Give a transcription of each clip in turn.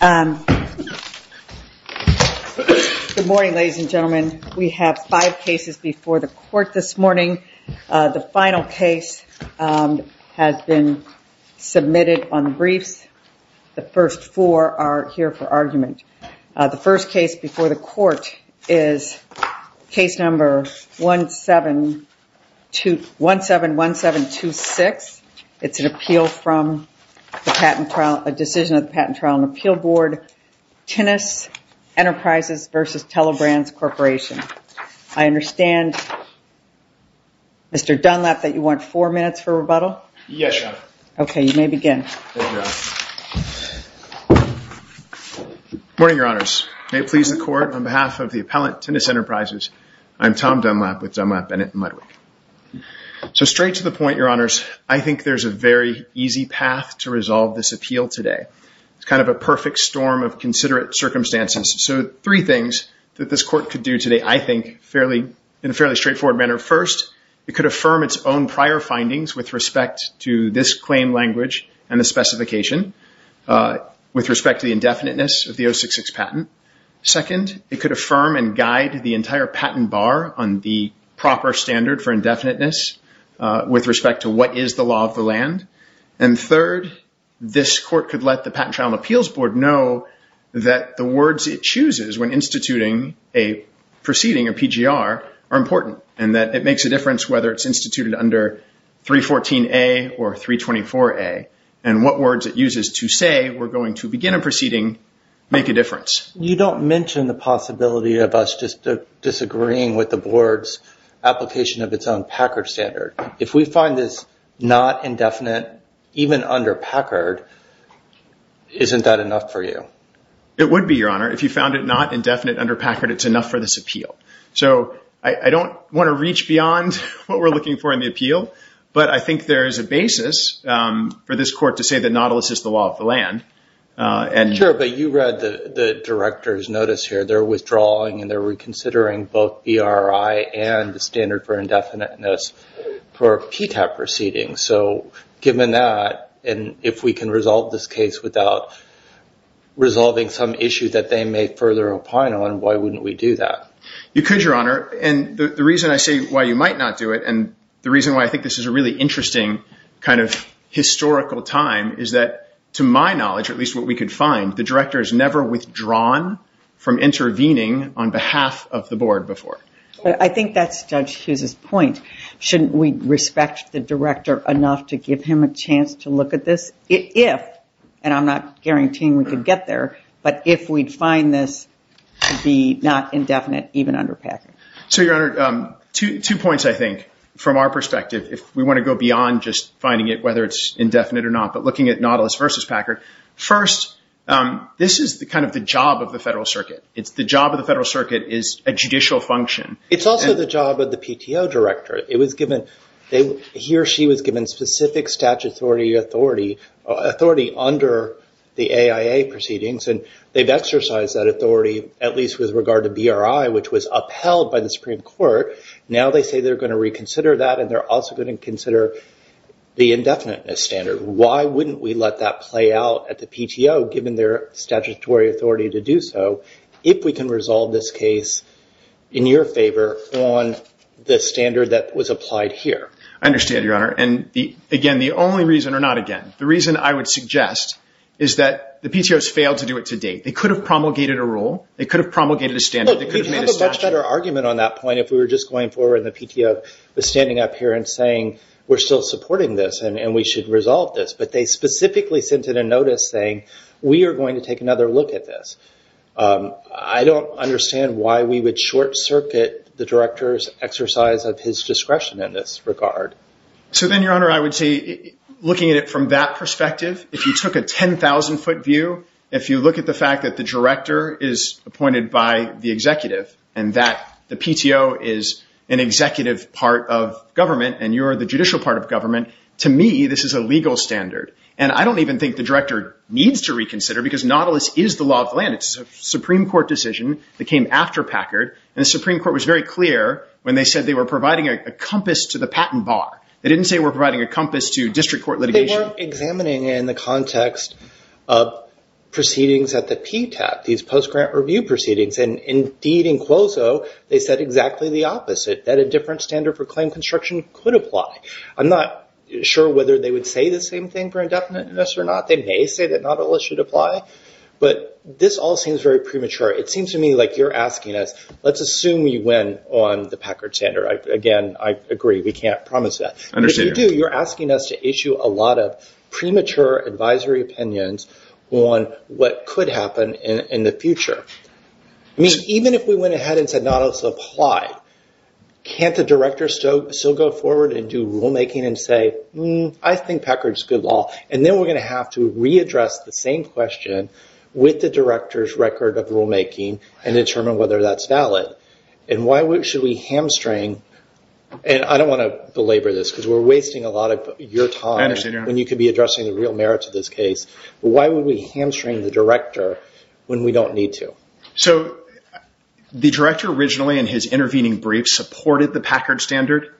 Good morning, ladies and gentlemen. We have five cases before the court this morning. The final case has been submitted on the briefs. The first four are here for argument. The appeal from the decision of the Patent Trial and Appeal Board, Tinnus Enterprises v. Telebrands Corporation. I understand, Mr. Dunlap, that you want four minutes for rebuttal? Yes, Your Honor. Okay, you may begin. Good morning, Your Honors. May it please the Court, on behalf of the appellant, Tinnus Enterprises, I'm Tom Dunlap with Dunlap, Bennett & Ludwig. So, straight to the point, Your Honors, I think there's a very easy path to resolve this appeal today. It's kind of a perfect storm of considerate circumstances. So, three things that this court could do today, I think, in a fairly straightforward manner. First, it could affirm its own prior findings with respect to this claim language and the specification with respect to the indefiniteness of the 066 patent. Second, it could affirm and guide the entire patent bar on the proper standard for indefiniteness with respect to what is the law of the land. And third, this court could let the Patent Trial and Appeals Board know that the words it chooses when instituting a proceeding, a PGR, are important and that it makes a difference whether it's instituted under 314A or 324A and what words it uses to say, we're going to begin a proceeding, make a difference. You don't mention the possibility of us just disagreeing with the board's application of its own Packard standard. If we find this not indefinite, even under Packard, isn't that enough for you? It would be, Your Honor. If you found it not indefinite under Packard, it's enough for this appeal. So, I don't want to reach beyond what we're looking for in the appeal, but I think there is a basis for this court to say that Nautilus is the law of the land. Sure, but you read the director's notice here. They're withdrawing and they're reconsidering both BRI and the standard for indefiniteness for a PTAP proceeding. So, given that, and if we can resolve this case without resolving some issue that they may further opine on, why wouldn't we do that? You could, Your Honor. And the reason I say why you might not do it, and the reason why I think this is a really interesting kind of historical time, is that, to my knowledge, or at least what we could find, the director has never withdrawn from intervening on behalf of the board before. I think that's Judge Hughes' point. Shouldn't we respect the director enough to give him a chance to look at this? If, and I'm not guaranteeing we could get there, but if we'd find this to be not indefinite, even under Packard. So, Your Honor, two points, I think, from our perspective. If we want to go beyond just indefinite or not, but looking at Nautilus versus Packard. First, this is kind of the job of the Federal Circuit. It's the job of the Federal Circuit is a judicial function. It's also the job of the PTO director. It was given, he or she was given specific statutory authority, authority under the AIA proceedings, and they've exercised that authority, at least with regard to BRI, which was upheld by the Supreme Court. Now they say they're going to reconsider that, and they're also going to consider the indefiniteness standard. Why wouldn't we let that play out at the PTO, given their statutory authority to do so, if we can resolve this case in your favor on the standard that was applied here? I understand, Your Honor, and again, the only reason, or not again, the reason I would suggest is that the PTO has failed to do it to date. They could have promulgated a rule. They could have promulgated a standard. We'd have a much better argument on that point if we were just going forward and the PTO was standing up here and saying, we're still supporting this, and we should resolve this. But they specifically sent in a notice saying, we are going to take another look at this. I don't understand why we would short circuit the director's exercise of his discretion in this regard. So then, Your Honor, I would say, looking at it from that perspective, if you took a 10,000 foot view, if you look at the fact that the director is appointed by the executive, and that the PTO is an executive part of government, and you're the judicial part of government, to me, this is a legal standard. And I don't even think the director needs to reconsider, because Nautilus is the law of the land. It's a Supreme Court decision that came after Packard, and the Supreme Court was very clear when they said they were providing a compass to the patent bar. They didn't say we're providing a compass to district court litigation. But if you're examining in the context of proceedings at the PTAT, these post-grant review proceedings, and indeed in Quozo, they said exactly the opposite, that a different standard for claim construction could apply. I'm not sure whether they would say the same thing for indefiniteness or not. They may say that Nautilus should apply, but this all seems very premature. It seems to me like you're asking us, let's assume we win on the Packard standard. Again, I agree, we can't promise that. I understand. But if you do, you're asking us to issue a lot of premature advisory opinions on what could happen in the future. I mean, even if we went ahead and said Nautilus applied, can't the director still go forward and do rulemaking and say, I think Packard's a good law? And then we're going to have to readdress the same question with the director's record of rulemaking and determine whether that's valid. And why should we hamstring, and I know you're wasting a lot of your time when you could be addressing the real merits of this case, but why would we hamstring the director when we don't need to? So the director originally, in his intervening brief, supported the Packard standard.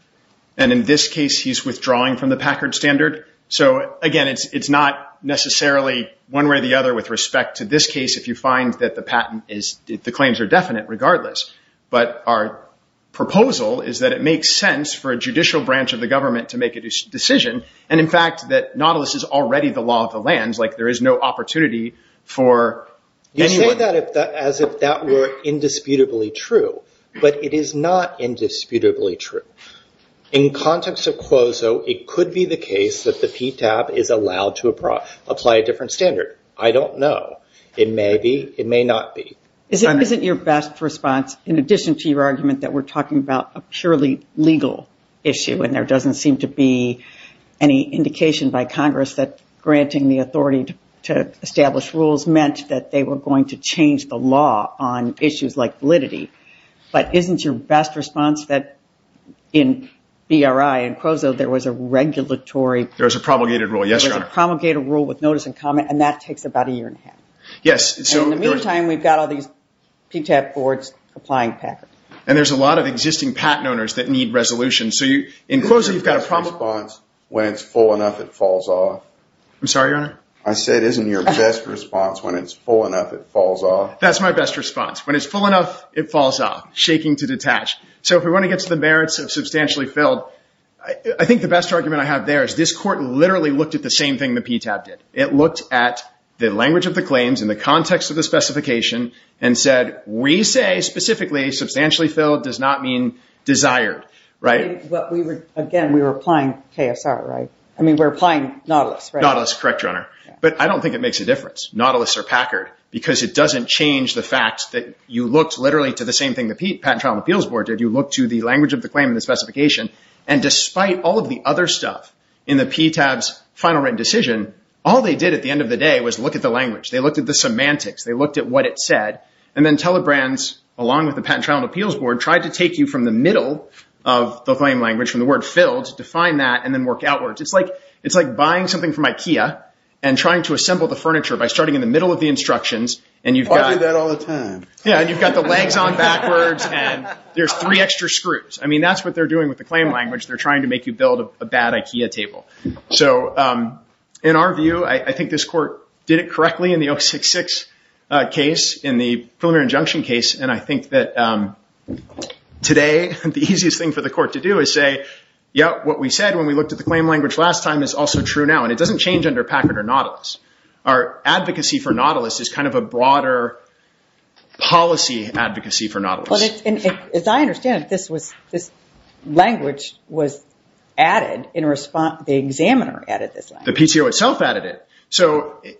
And in this case, he's withdrawing from the Packard standard. So again, it's not necessarily one way or the other with respect to this case, if you find that the patent is, the claims are definite regardless. But our proposal is that it makes sense for a judicial branch of the government to make a decision. And in fact, that Nautilus is already the law of the lands, like there is no opportunity for anyone. You say that as if that were indisputably true. But it is not indisputably true. In context of Quozo, it could be the case that the PTAB is allowed to apply a different standard. I don't know. It may be, it may not be. Is it your best response, in addition to your argument that we're talking about a purely legal issue, and there doesn't seem to be any indication by Congress that granting the authority to establish rules meant that they were going to change the law on issues like validity. But isn't your best response that in BRI and Quozo, there was a regulatory... There was a promulgated rule, yes, Your Honor. There was a promulgated rule with notice and comment, and that takes about a year and a half. Yes, so... And in the meantime, we've got all these PTAB boards applying Packard. And there's a lot of existing patent owners that need resolution. So in Quozo, you've got a promulgated... Isn't your best response, when it's full enough, it falls off? I'm sorry, Your Honor? I said, isn't your best response, when it's full enough, it falls off? That's my best response. When it's full enough, it falls off. Shaking to detach. So if we want to get to the merits of substantially filled, I think the best argument I have there is this court literally looked at the same thing the PTAB did. It looked at the language of the claims in the context of the specification and said, we say, specifically, substantially filled does not mean desired, right? But we were, again, we were applying KSR, right? I mean, we're applying Nautilus, right? Nautilus, correct, Your Honor. But I don't think it makes a difference. Nautilus or Packard, because it doesn't change the fact that you looked literally to the same thing the Patent Trial and Appeals Board did. You looked to the language of the claim and the specification. And despite all of the other stuff in the PTAB's final written decision, all they did at the end of the day was look at the language. They looked at the semantics. They looked at what it said. And then Telebrands, along with the Patent Trial and Appeals Board, tried to take you from the middle of the claim language, from the word filled, define that, and then work outwards. It's like buying something from Ikea and trying to assemble the furniture by starting in the middle of the instructions. I do that all the time. Yeah, and you've got the legs on backwards, and there's three extra screws. I mean, that's what they're doing with the claim language. They're trying to make you build a bad Ikea table. So in our view, I think this court did it correctly in the 066 case, in the preliminary injunction case. And I think that today, the easiest thing for the court to do is say, yeah, what we said when we looked at the claim language last time is also true now. And it doesn't change under Packard or Nautilus. Our advocacy for Nautilus is kind of a broader policy advocacy for Nautilus. As I understand it, this language was added in response. The examiner added this language. The PTO itself added it.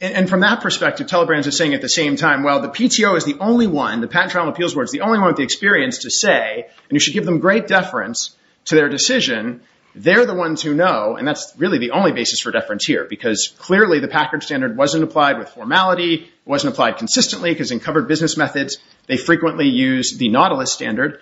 And from that perspective, Telebrans is saying at the same time, well, the PTO is the only one, the Patent Trial and Appeals Board is the only one with the experience to say, and you should give them great deference to their decision, they're the ones who know. And that's really the only basis for deference here, because clearly the Packard standard wasn't applied with formality, wasn't applied consistently, because in covered business methods, they frequently use the Nautilus standard.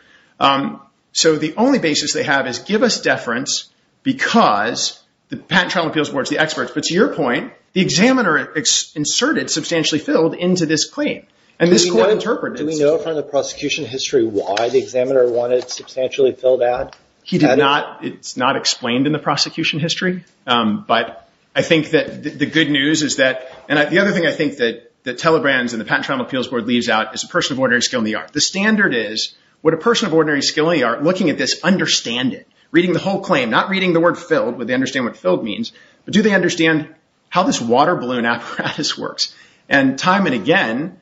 So the only basis they have is give us deference because the Patent Trial and Appeals Board is the experts. But to your point, the examiner inserted substantially filled into this claim. And this court interpreted it. Do we know from the prosecution history why the examiner wanted substantially filled out? He did not. It's not explained in the prosecution history. But I think that the good news is that, and the other thing I think that Telebrans and the Patent Trial and Appeals Board leaves out is a person of ordinary skill in the art. The standard is, would a person of ordinary skill in the art, looking at this, understand it? Reading the whole claim, not reading the word filled, would they understand what filled means, but do they understand how this water balloon apparatus works? And time and again,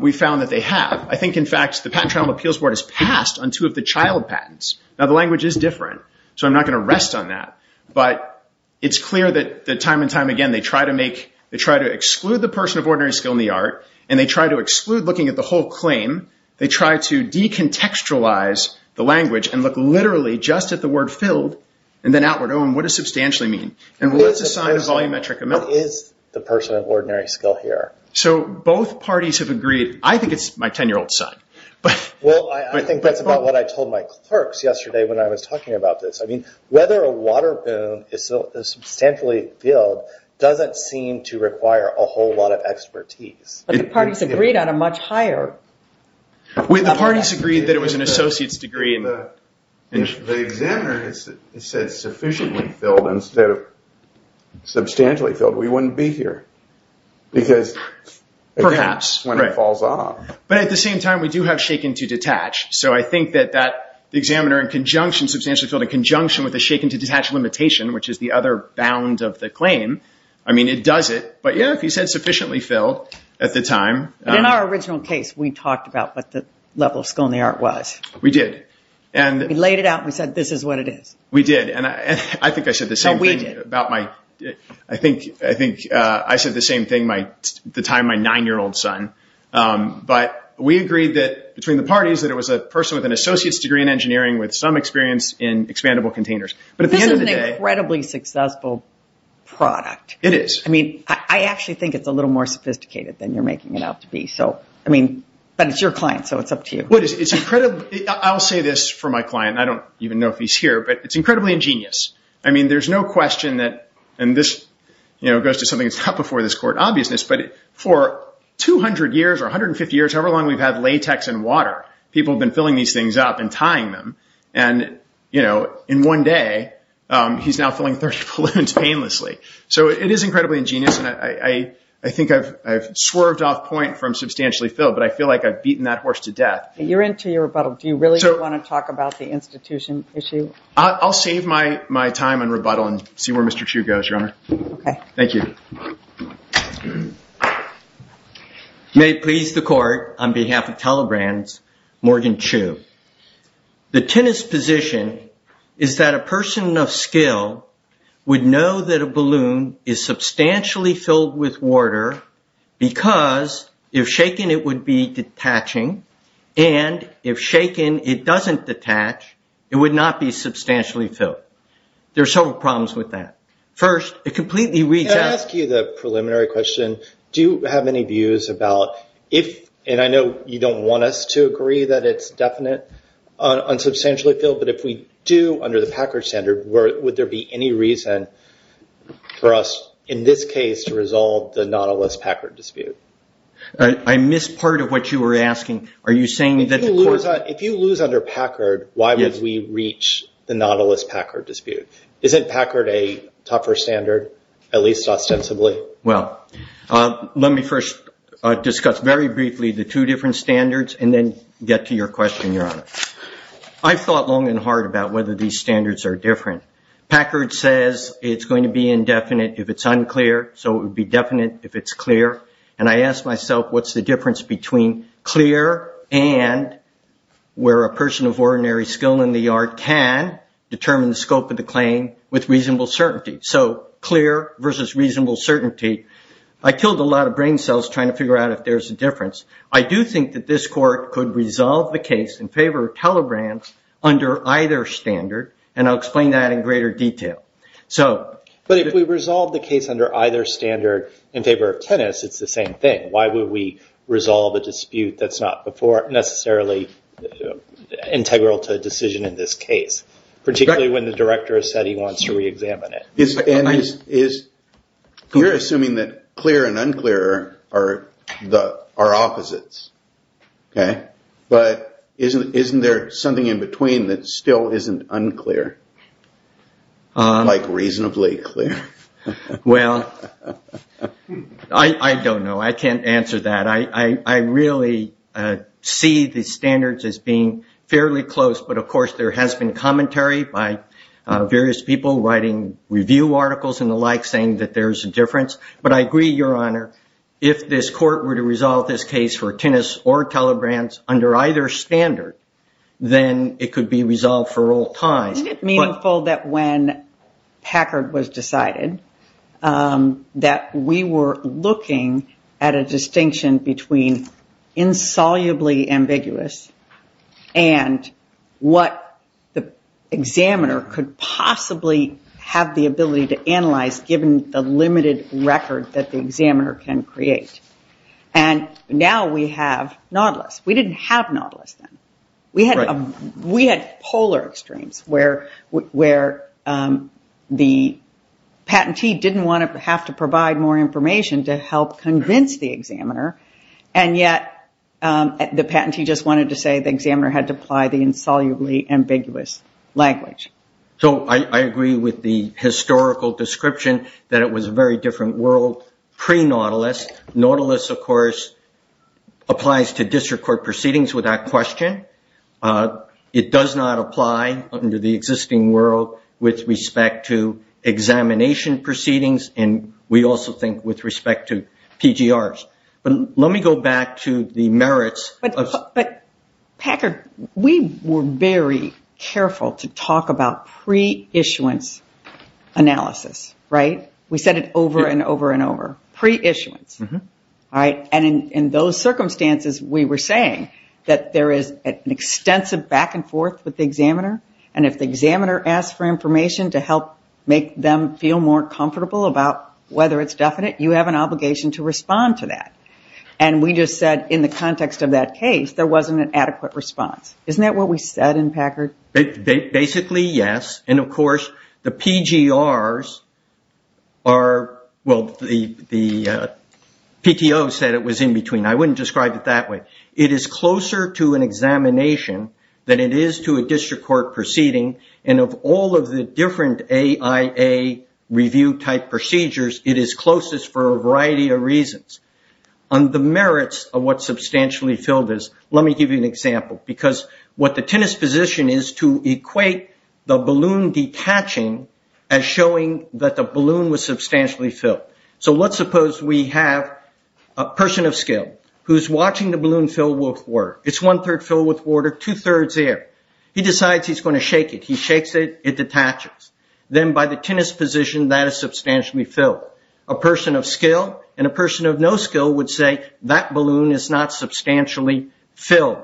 we found that they have. I think, in fact, the Patent Trial and Appeals Board has passed on two of the child patents. Now, the language is different, so I'm not going to rest on that. But it's clear that time and time again, they try to exclude the person of ordinary skill in the art, and they try to exclude looking at the whole claim. They try to decontextualize the language and look literally just at the word filled, and then outward. Oh, and what does substantially mean? And we'll let's assign a volumetric amount. What is the person of ordinary skill here? So both parties have agreed. I think it's my 10-year-old son. Well, I think that's about what I told my clerks yesterday when I was talking about this. I mean, whether a water balloon is substantially filled doesn't seem to require a whole lot of expertise. But the parties agreed on a much higher... Wait, the parties agreed that it was an associate's degree in the... The examiner said sufficiently filled instead of substantially filled. We wouldn't be here because... Perhaps. When it falls off. But at the same time, we do have shaken to detach limitation, which is the other bound of the claim. I mean, it does it. But yeah, if you said sufficiently filled at the time... In our original case, we talked about what the level of skill in the art was. We did. We laid it out and we said, this is what it is. We did. And I think I said the same thing about my... I think I said the same thing the time my nine-year-old son. But we agreed that between the parties that it was a person with an associate's degree in engineering with some experience in expandable containers. But at the end of the day... This is an incredibly successful product. It is. I mean, I actually think it's a little more sophisticated than you're making it out to be. So, I mean, but it's your client, so it's up to you. It's incredible. I'll say this for my client. I don't even know if he's here, but it's incredibly ingenious. I mean, there's no question that... And this goes to something that's not before this court obviousness, but for 200 years or 150 years, however long we've had latex and water, people have been filling these things up and tying them. And in one day, he's now filling 30 balloons painlessly. So it is incredibly ingenious. And I think I've swerved off point from substantially filled, but I feel like I've beaten that horse to death. You're into your rebuttal. Do you really want to talk about the institution issue? I'll save my time on rebuttal and see where Mr. Chu goes, Your Honor. Okay. Thank you. May it please the court, on behalf of Telegram's Morgan Chu, the tennis position is that a person of skill would know that a balloon is substantially filled with water because if shaken, it would be detaching. And if shaken, it doesn't detach. It would not be substantially filled. There are several problems with that. First, it completely reads out- Can I ask you the preliminary question? Do you have any views about if, and I know you don't want us to agree that it's definite on substantially filled, but if we do under the Packard standard, would there be any reason for us in this case to resolve the Nautilus Packard dispute? I missed part of what you were asking. Are you saying that the court- If you lose under Packard, why would we reach the Nautilus Packard dispute? Isn't Packard a tougher standard, at least ostensibly? Well, let me first discuss very briefly the two different standards and then get to your question, Your Honor. I've thought long and hard about whether these standards are different. Packard says it's going to be indefinite if it's unclear, so it would be definite if it's clear. And I ask myself, what's the difference between clear and where a person of ordinary skill in the yard can determine the scope of the claim with reasonable certainty? So, clear versus reasonable certainty. I killed a lot of brain cells trying to figure out if there's a difference. I do think that this court could resolve the case in favor of telegrams under either standard, and I'll explain that in greater detail. But if we resolve the case under either standard in favor of tennis, it's the same thing. Why would we resolve a dispute that's not before necessarily integral to a decision in this case, particularly when the director has said he wants to re-examine it? You're assuming that clear and unclear are opposites, okay? But isn't there something in between that still isn't unclear, like reasonably clear? Well, I don't know. I can't answer that. I really see the standards as being fairly close, but of course there has been commentary by various people writing review articles and the like saying that there's a difference. But I agree, Your Honor, if this court were to resolve this case for tennis or telegrams under either standard, then it could be resolved for all times. Isn't it meaningful that when Packard was decided that we were looking at a distinction between insolubly ambiguous and what the examiner could possibly have the ability to analyze given the limited record that the examiner can create? And now we have Nautilus. We didn't have Nautilus then. We had polar extremes where the patentee didn't want to have to provide more information to help convince the examiner, and yet the patentee just wanted to say the examiner had to apply the insolubly ambiguous language. So I agree with the historical description that it was a very different world pre-Nautilus. Nautilus, of course, applies to district court proceedings without question. It does not apply under the existing world with respect to examination proceedings, and we also think with respect to PGRs. Let me go back to the merits of... But Packard, we were very careful to talk about pre-issuance analysis. We said it over and over and over. Pre-issuance. And in those circumstances, we were saying that there is an extensive back and forth with the examiner, and if the examiner asks for information to help make them feel more comfortable about whether it's definite, you have an obligation to respond to that. And we just said in the context of that case, there wasn't an adequate response. Isn't that what we said in Packard? Basically, yes. And of course, the PGRs are... Well, the PTO said it was in between. I wouldn't answer to an examination than it is to a district court proceeding, and of all of the different AIA review-type procedures, it is closest for a variety of reasons. On the merits of what substantially filled is, let me give you an example. Because what the tennis position is to equate the balloon detaching as showing that the balloon was substantially filled. So let's suppose we have a person of skill who's watching the game. It's one-third filled with water, two-thirds air. He decides he's going to shake it. He shakes it, it detaches. Then by the tennis position, that is substantially filled. A person of skill and a person of no skill would say, that balloon is not substantially filled.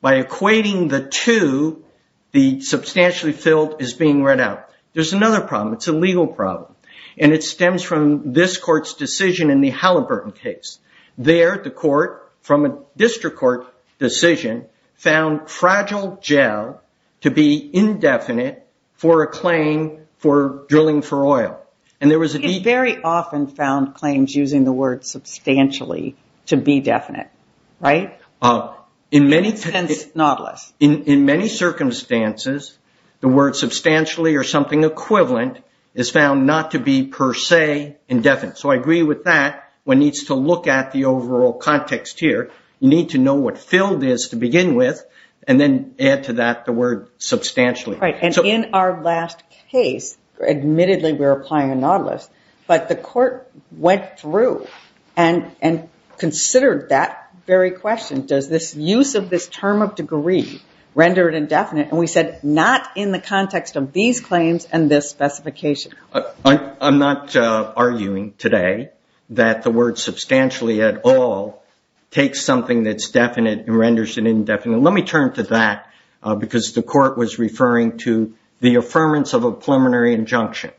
By equating the two, the substantially filled is being read out. There's another problem. It's a legal problem. And it stems from this court's decision in the Halliburton case. There, the court, from a district court decision, found fragile gel to be indefinite for a claim for drilling for oil. And there was a... It very often found claims using the word substantially to be definite, right? In many... In a sense, not less. In many circumstances, the word substantially or something equivalent is found not to be per se indefinite. So I agree with that. One needs to look at the overall context here. You need to know what filled is to begin with, and then add to that the word substantially. Right. And in our last case, admittedly we were applying a nautilus, but the court went through and considered that very question. Does this use of this term of degree render it indefinite? And we said, not in the context of these claims and this specification. I'm not arguing today that the word substantially at all takes something that's definite and renders it indefinite. Let me turn to that, because the court was referring to the affirmance of a preliminary injunction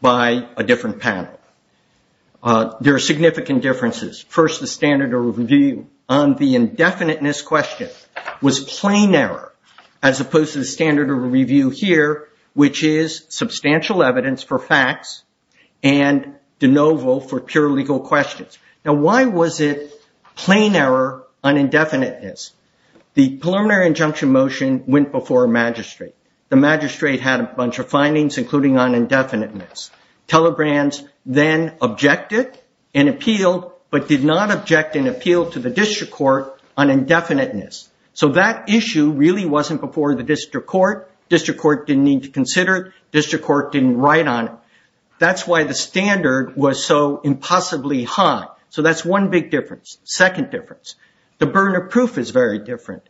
by a different panel. There are significant differences. First, the standard of review on the indefiniteness question was plain error, as opposed to the standard of review here, which is substantial evidence for facts and de novo for pure legal questions. Now, why was it plain error on indefiniteness? The preliminary injunction motion went before a magistrate. The magistrate had a bunch of findings, including on indefiniteness. Telegrants then objected and appealed, but did not object and appeal to the district court on indefiniteness. So that issue really wasn't before the district court. District court didn't need to consider it. District court didn't write on it. That's why the standard was so impossibly high. So that's one big difference. Second difference, the burner proof is very different.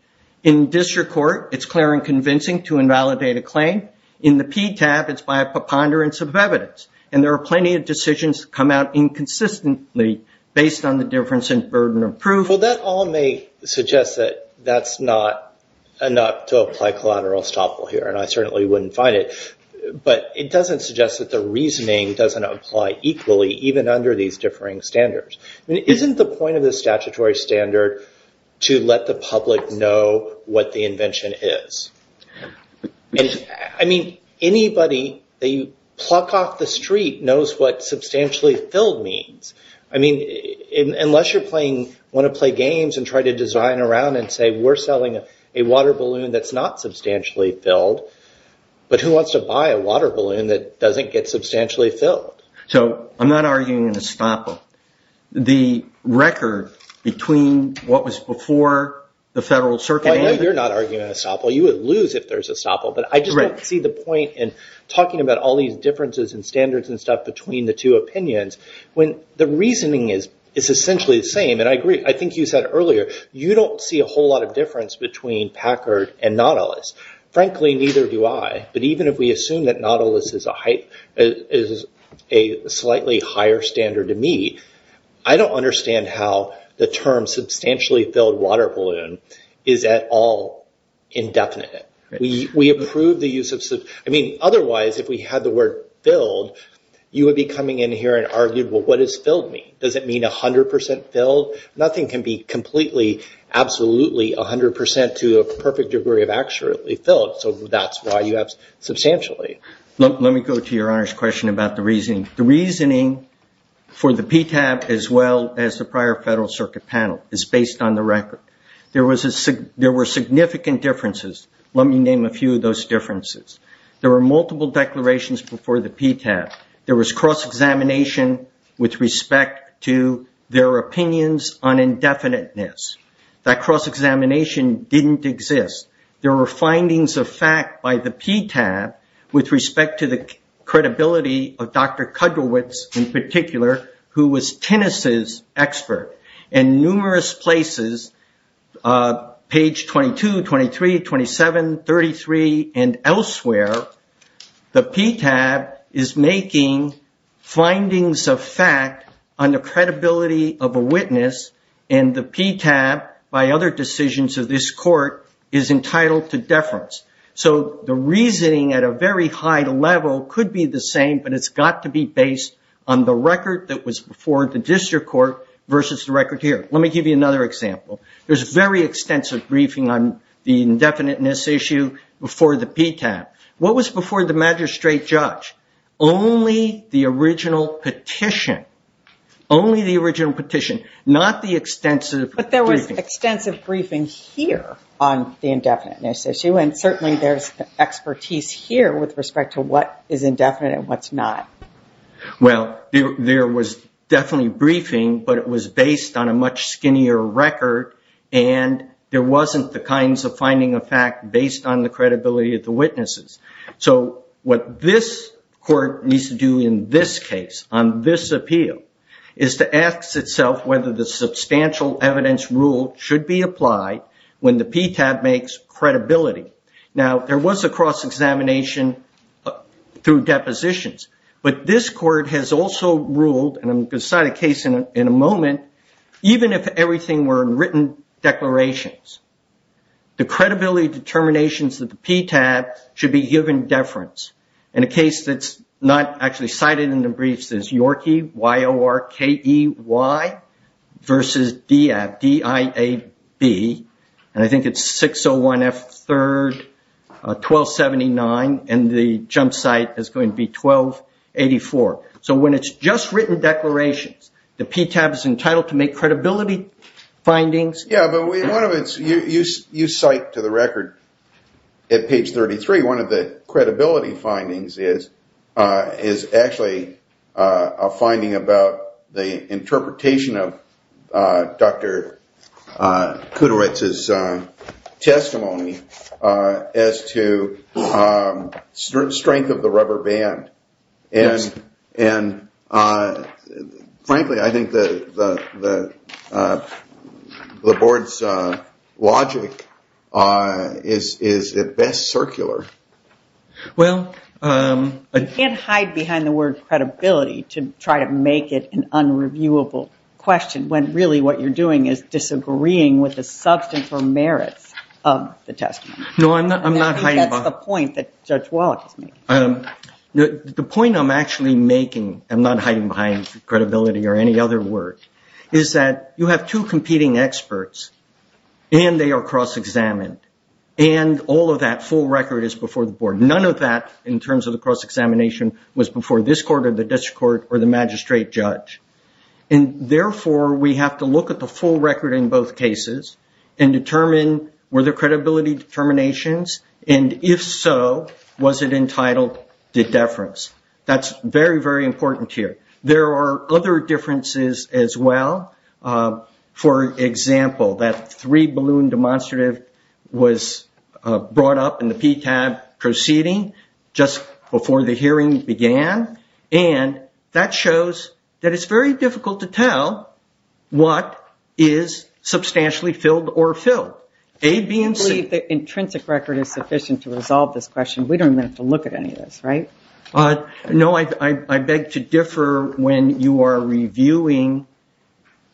In district court, it's clear and convincing to invalidate a claim. In the PTAB, it's by a preponderance of evidence, and there are plenty of decisions that come out inconsistently based on the difference in burden of proof. Well, that all may suggest that that's not enough to apply collateral estoppel here, and I certainly wouldn't find it. But it doesn't suggest that the reasoning doesn't apply equally, even under these differing standards. Isn't the point of the statutory standard to let the public know what the invention is? Anybody that you pluck off the street knows what substantially filled means. I mean, unless you want to play games and try to design around and say, we're selling a water balloon that's not substantially filled, but who wants to buy a water balloon that doesn't get substantially filled? So I'm not arguing an estoppel. The record between what was before the Federal Circuit and- I know you're not arguing an estoppel. You would lose if there's estoppel, but I just don't see the point in talking about all these differences in standards and stuff between the two opinions when the reasoning is essentially the same. I agree. I think you said earlier, you don't see a whole lot of difference between Packard and Nautilus. Frankly, neither do I. But even if we assume that Nautilus is a slightly higher standard to me, I don't understand how the term substantially filled water balloon is at all indefinite. Otherwise, if we had the word filled, you would be coming in here and argue, well, what does filled mean? Does it mean 100% filled? Nothing can be completely, absolutely 100% to a perfect degree of actually filled. So that's why you have substantially. Let me go to your Honor's question about the reasoning. The reasoning for the PTAB as well as the prior Federal Circuit panel is based on the record. There were significant differences. Let me name a few of those differences. There were multiple declarations before the PTAB. There was cross-examination with respect to their opinions on indefiniteness. That cross-examination didn't exist. There were findings of fact by the PTAB with respect to the credibility of Dr. Kudlowitz, in particular, who was Tennis's expert. In numerous places, page 22, 23, 27, 33, and elsewhere, the PTAB is making findings of fact on the credibility of a witness, and the PTAB, by other decisions of this Court, is entitled to deference. So the reasoning at a very high level could be the same, but it's got to be based on the record that was before the District Court versus the record here. Let me give you another example. There's a very extensive briefing on the indefiniteness issue before the PTAB. What was before the magistrate judge? Only the original petition. Only the original petition, not the extensive briefing. But there was extensive briefing here on the indefiniteness issue, and certainly there's expertise here with respect to what is indefinite and what's not. Well, there was definitely briefing, but it was based on a much skinnier record, and there wasn't the kinds of finding of fact based on the credibility of the witnesses. So what this Court needs to do in this case, on this appeal, is to ask itself whether the substantial evidence rule should be applied when the PTAB makes credibility. Now there was a cross-examination through depositions, but this Court has also ruled, and I'm going to cite a case in a moment, even if everything were in written declarations, the credibility determinations of the PTAB should be given deference. In a case that's not actually cited in the briefs is Yorkey, Y-O-R-K-E-Y, versus D-I-A-B, and I think it's 601 F 3rd, 1279, and the jump site is going to be 1284. So when it's just written declarations, the PTAB is entitled to make credibility findings. Yeah, but one of its, you cite to the record at page 33, one of the credibility findings is actually a finding about the interpretation of Dr. Kuderitz's testimony as to strength of the rubber band, and frankly I think the Board's logic is at best circular. You can't hide behind the word credibility to try to make it an unreviewable question when really what you're doing is disagreeing with the substance or merits of the testimony. The point I'm actually making, I'm not hiding behind credibility or any other word, is that you have two competing experts, and they are cross-examined, and all of that full record is before the Board. None of that, in terms of the cross-examination, was before this court or the district court or the magistrate judge, and therefore we have to look at the full record in both cases and determine were there credibility determinations, and if so, was it entitled to deference? That's very, very important here. There are other differences as well. For example, that three-balloon demonstrative was brought up in the PTAB proceeding just before the hearing began, and that shows that it's very difficult to tell what is substantially filled or filled, A, B, and C. I believe the intrinsic record is sufficient to resolve this question. We don't even have to look at any of this, right? No, I beg to differ when you are reviewing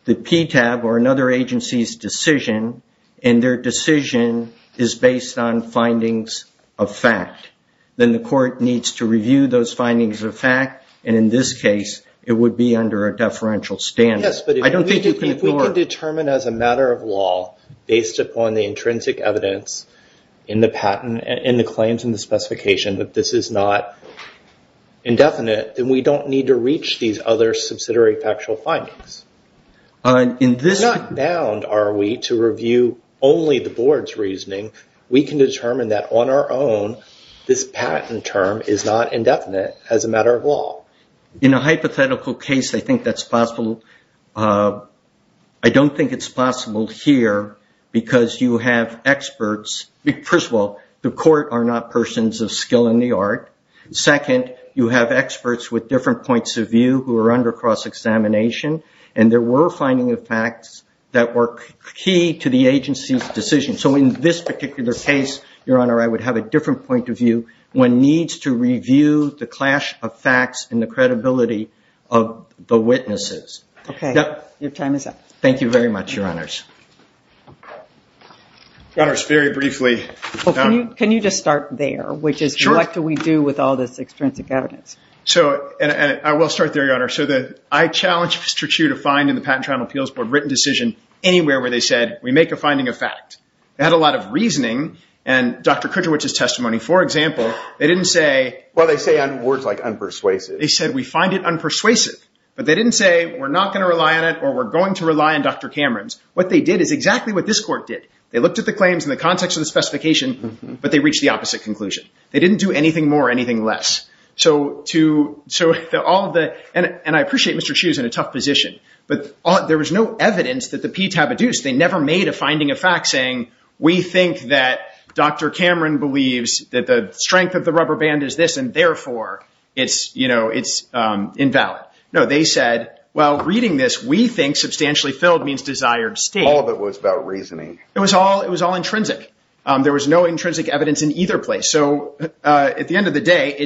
the PTAB or another agency's decision, and their decision is based on findings of fact. Then the court needs to review those findings of fact, and in this case, it would be under a deferential standard. Yes, but if we can determine as a matter of law, based upon the intrinsic evidence in the patent and the claims and the specification that this is not indefinite, then we don't need to reach these other subsidiary factual findings. We're not bound, are we, to review only the board's reasoning. We can determine that on our own, this patent term is not indefinite as a matter of law. In a hypothetical case, I think that's possible. I don't think it's possible here because you have experts. First of all, the court are not persons of skill in the art. Second, you have experts with different points of view who are under cross-examination, and there were findings of facts that were key to the agency's decision. In this particular case, Your Honor, I would have a different point of view. One needs to review the clash of facts and the credibility of the witnesses. Okay, your time is up. Thank you very much, Your Honors. Your Honors, very briefly. Can you just start there, which is what do we do with all this extrinsic evidence? I will start there, Your Honor. I challenged Mr. Chu to find in the Patent Trial and Appeals Board written decision anywhere where they said, we make a finding of fact. They had a lot of reasoning, and Dr. Kudrowich's testimony, for example, they didn't say- Well, they say words like unpersuasive. They said, we find it unpersuasive, but they didn't say, we're not going to rely on it, or we're going to rely on Dr. Cameron's. What they did is exactly what this court did. They looked at the claims in the context of the specification, but they reached the opposite conclusion. They didn't do anything more or anything less. And I appreciate Mr. Chu is in a tough position, but there was no evidence that the PTAB had used. They never made a finding of fact saying, we think that Dr. Cameron believes that the strength of the rubber band is this, and therefore, it's invalid. No, they said, well, reading this, we think substantially filled means desired state. All of it was about reasoning. It was all intrinsic. There was no intrinsic evidence in either place. So at the end of the day,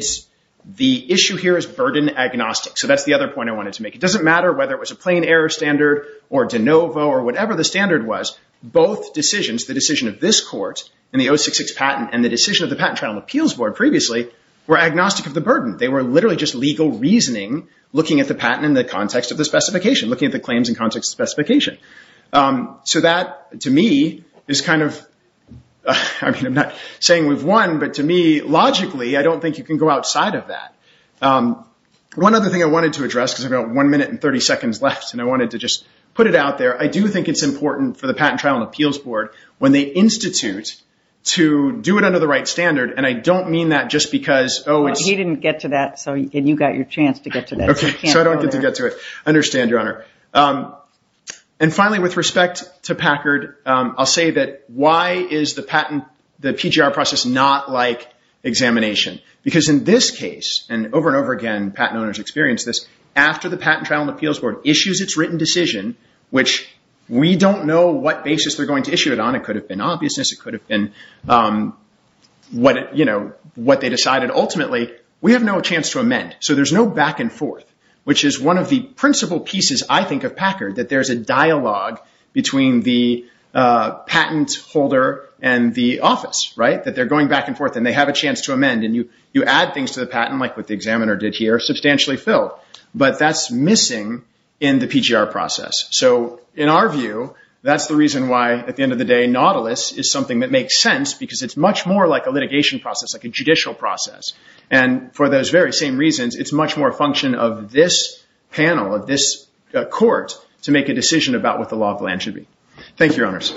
the issue here is burden agnostic. So that's the other point I wanted to make. It doesn't matter whether it was a plain error standard or de novo or whatever the standard was, both decisions, the decision of this court in the 066 patent and the decision of the Patent Trial and Appeals Board previously, were agnostic of the burden. They were literally just legal reasoning, looking at the patent in the context of the specification, looking at the claims in context of the specification. So that, to me, is kind of, I mean, I'm not saying we've won, but to me, logically, I don't think you can go outside of that. One other thing I wanted to address, because I've got one minute and 30 seconds left, and I wanted to just put it out there. I do think it's important for the Patent Trial and Appeals Board, when they institute, to do it under the right standard. And I don't mean that just because, oh, it's- He didn't get to that, and you got your chance to get to that. Okay. So I don't get to get to it. I understand, Your Honor. And finally, with respect to Packard, I'll say that why is the patent, the PGR process, not like examination? Because in this case, and over and over again, patent owners experience this, after the Patent Trial and Appeals Board issues its written decision, which we don't know what basis they're going to issue it on. It could have been obviousness. It could have been what they decided. Ultimately, we have no chance to amend. So there's no back and forth, which is one of the principal pieces, I think, of Packard, that there's a dialogue between the patent holder and the office, right? That they're going back and forth, and they have a chance to amend, and you add things to the patent, like what the examiner did here, substantially filled. But that's missing in the PGR process. So in our view, that's the reason why, at the end of the day, Nautilus is something that makes sense, because it's much more like a litigation process, like a judicial process. And for those very same reasons, it's much more a function of this panel, of this court, to make a decision about what the law of the land should be. Thank you, Your Honors.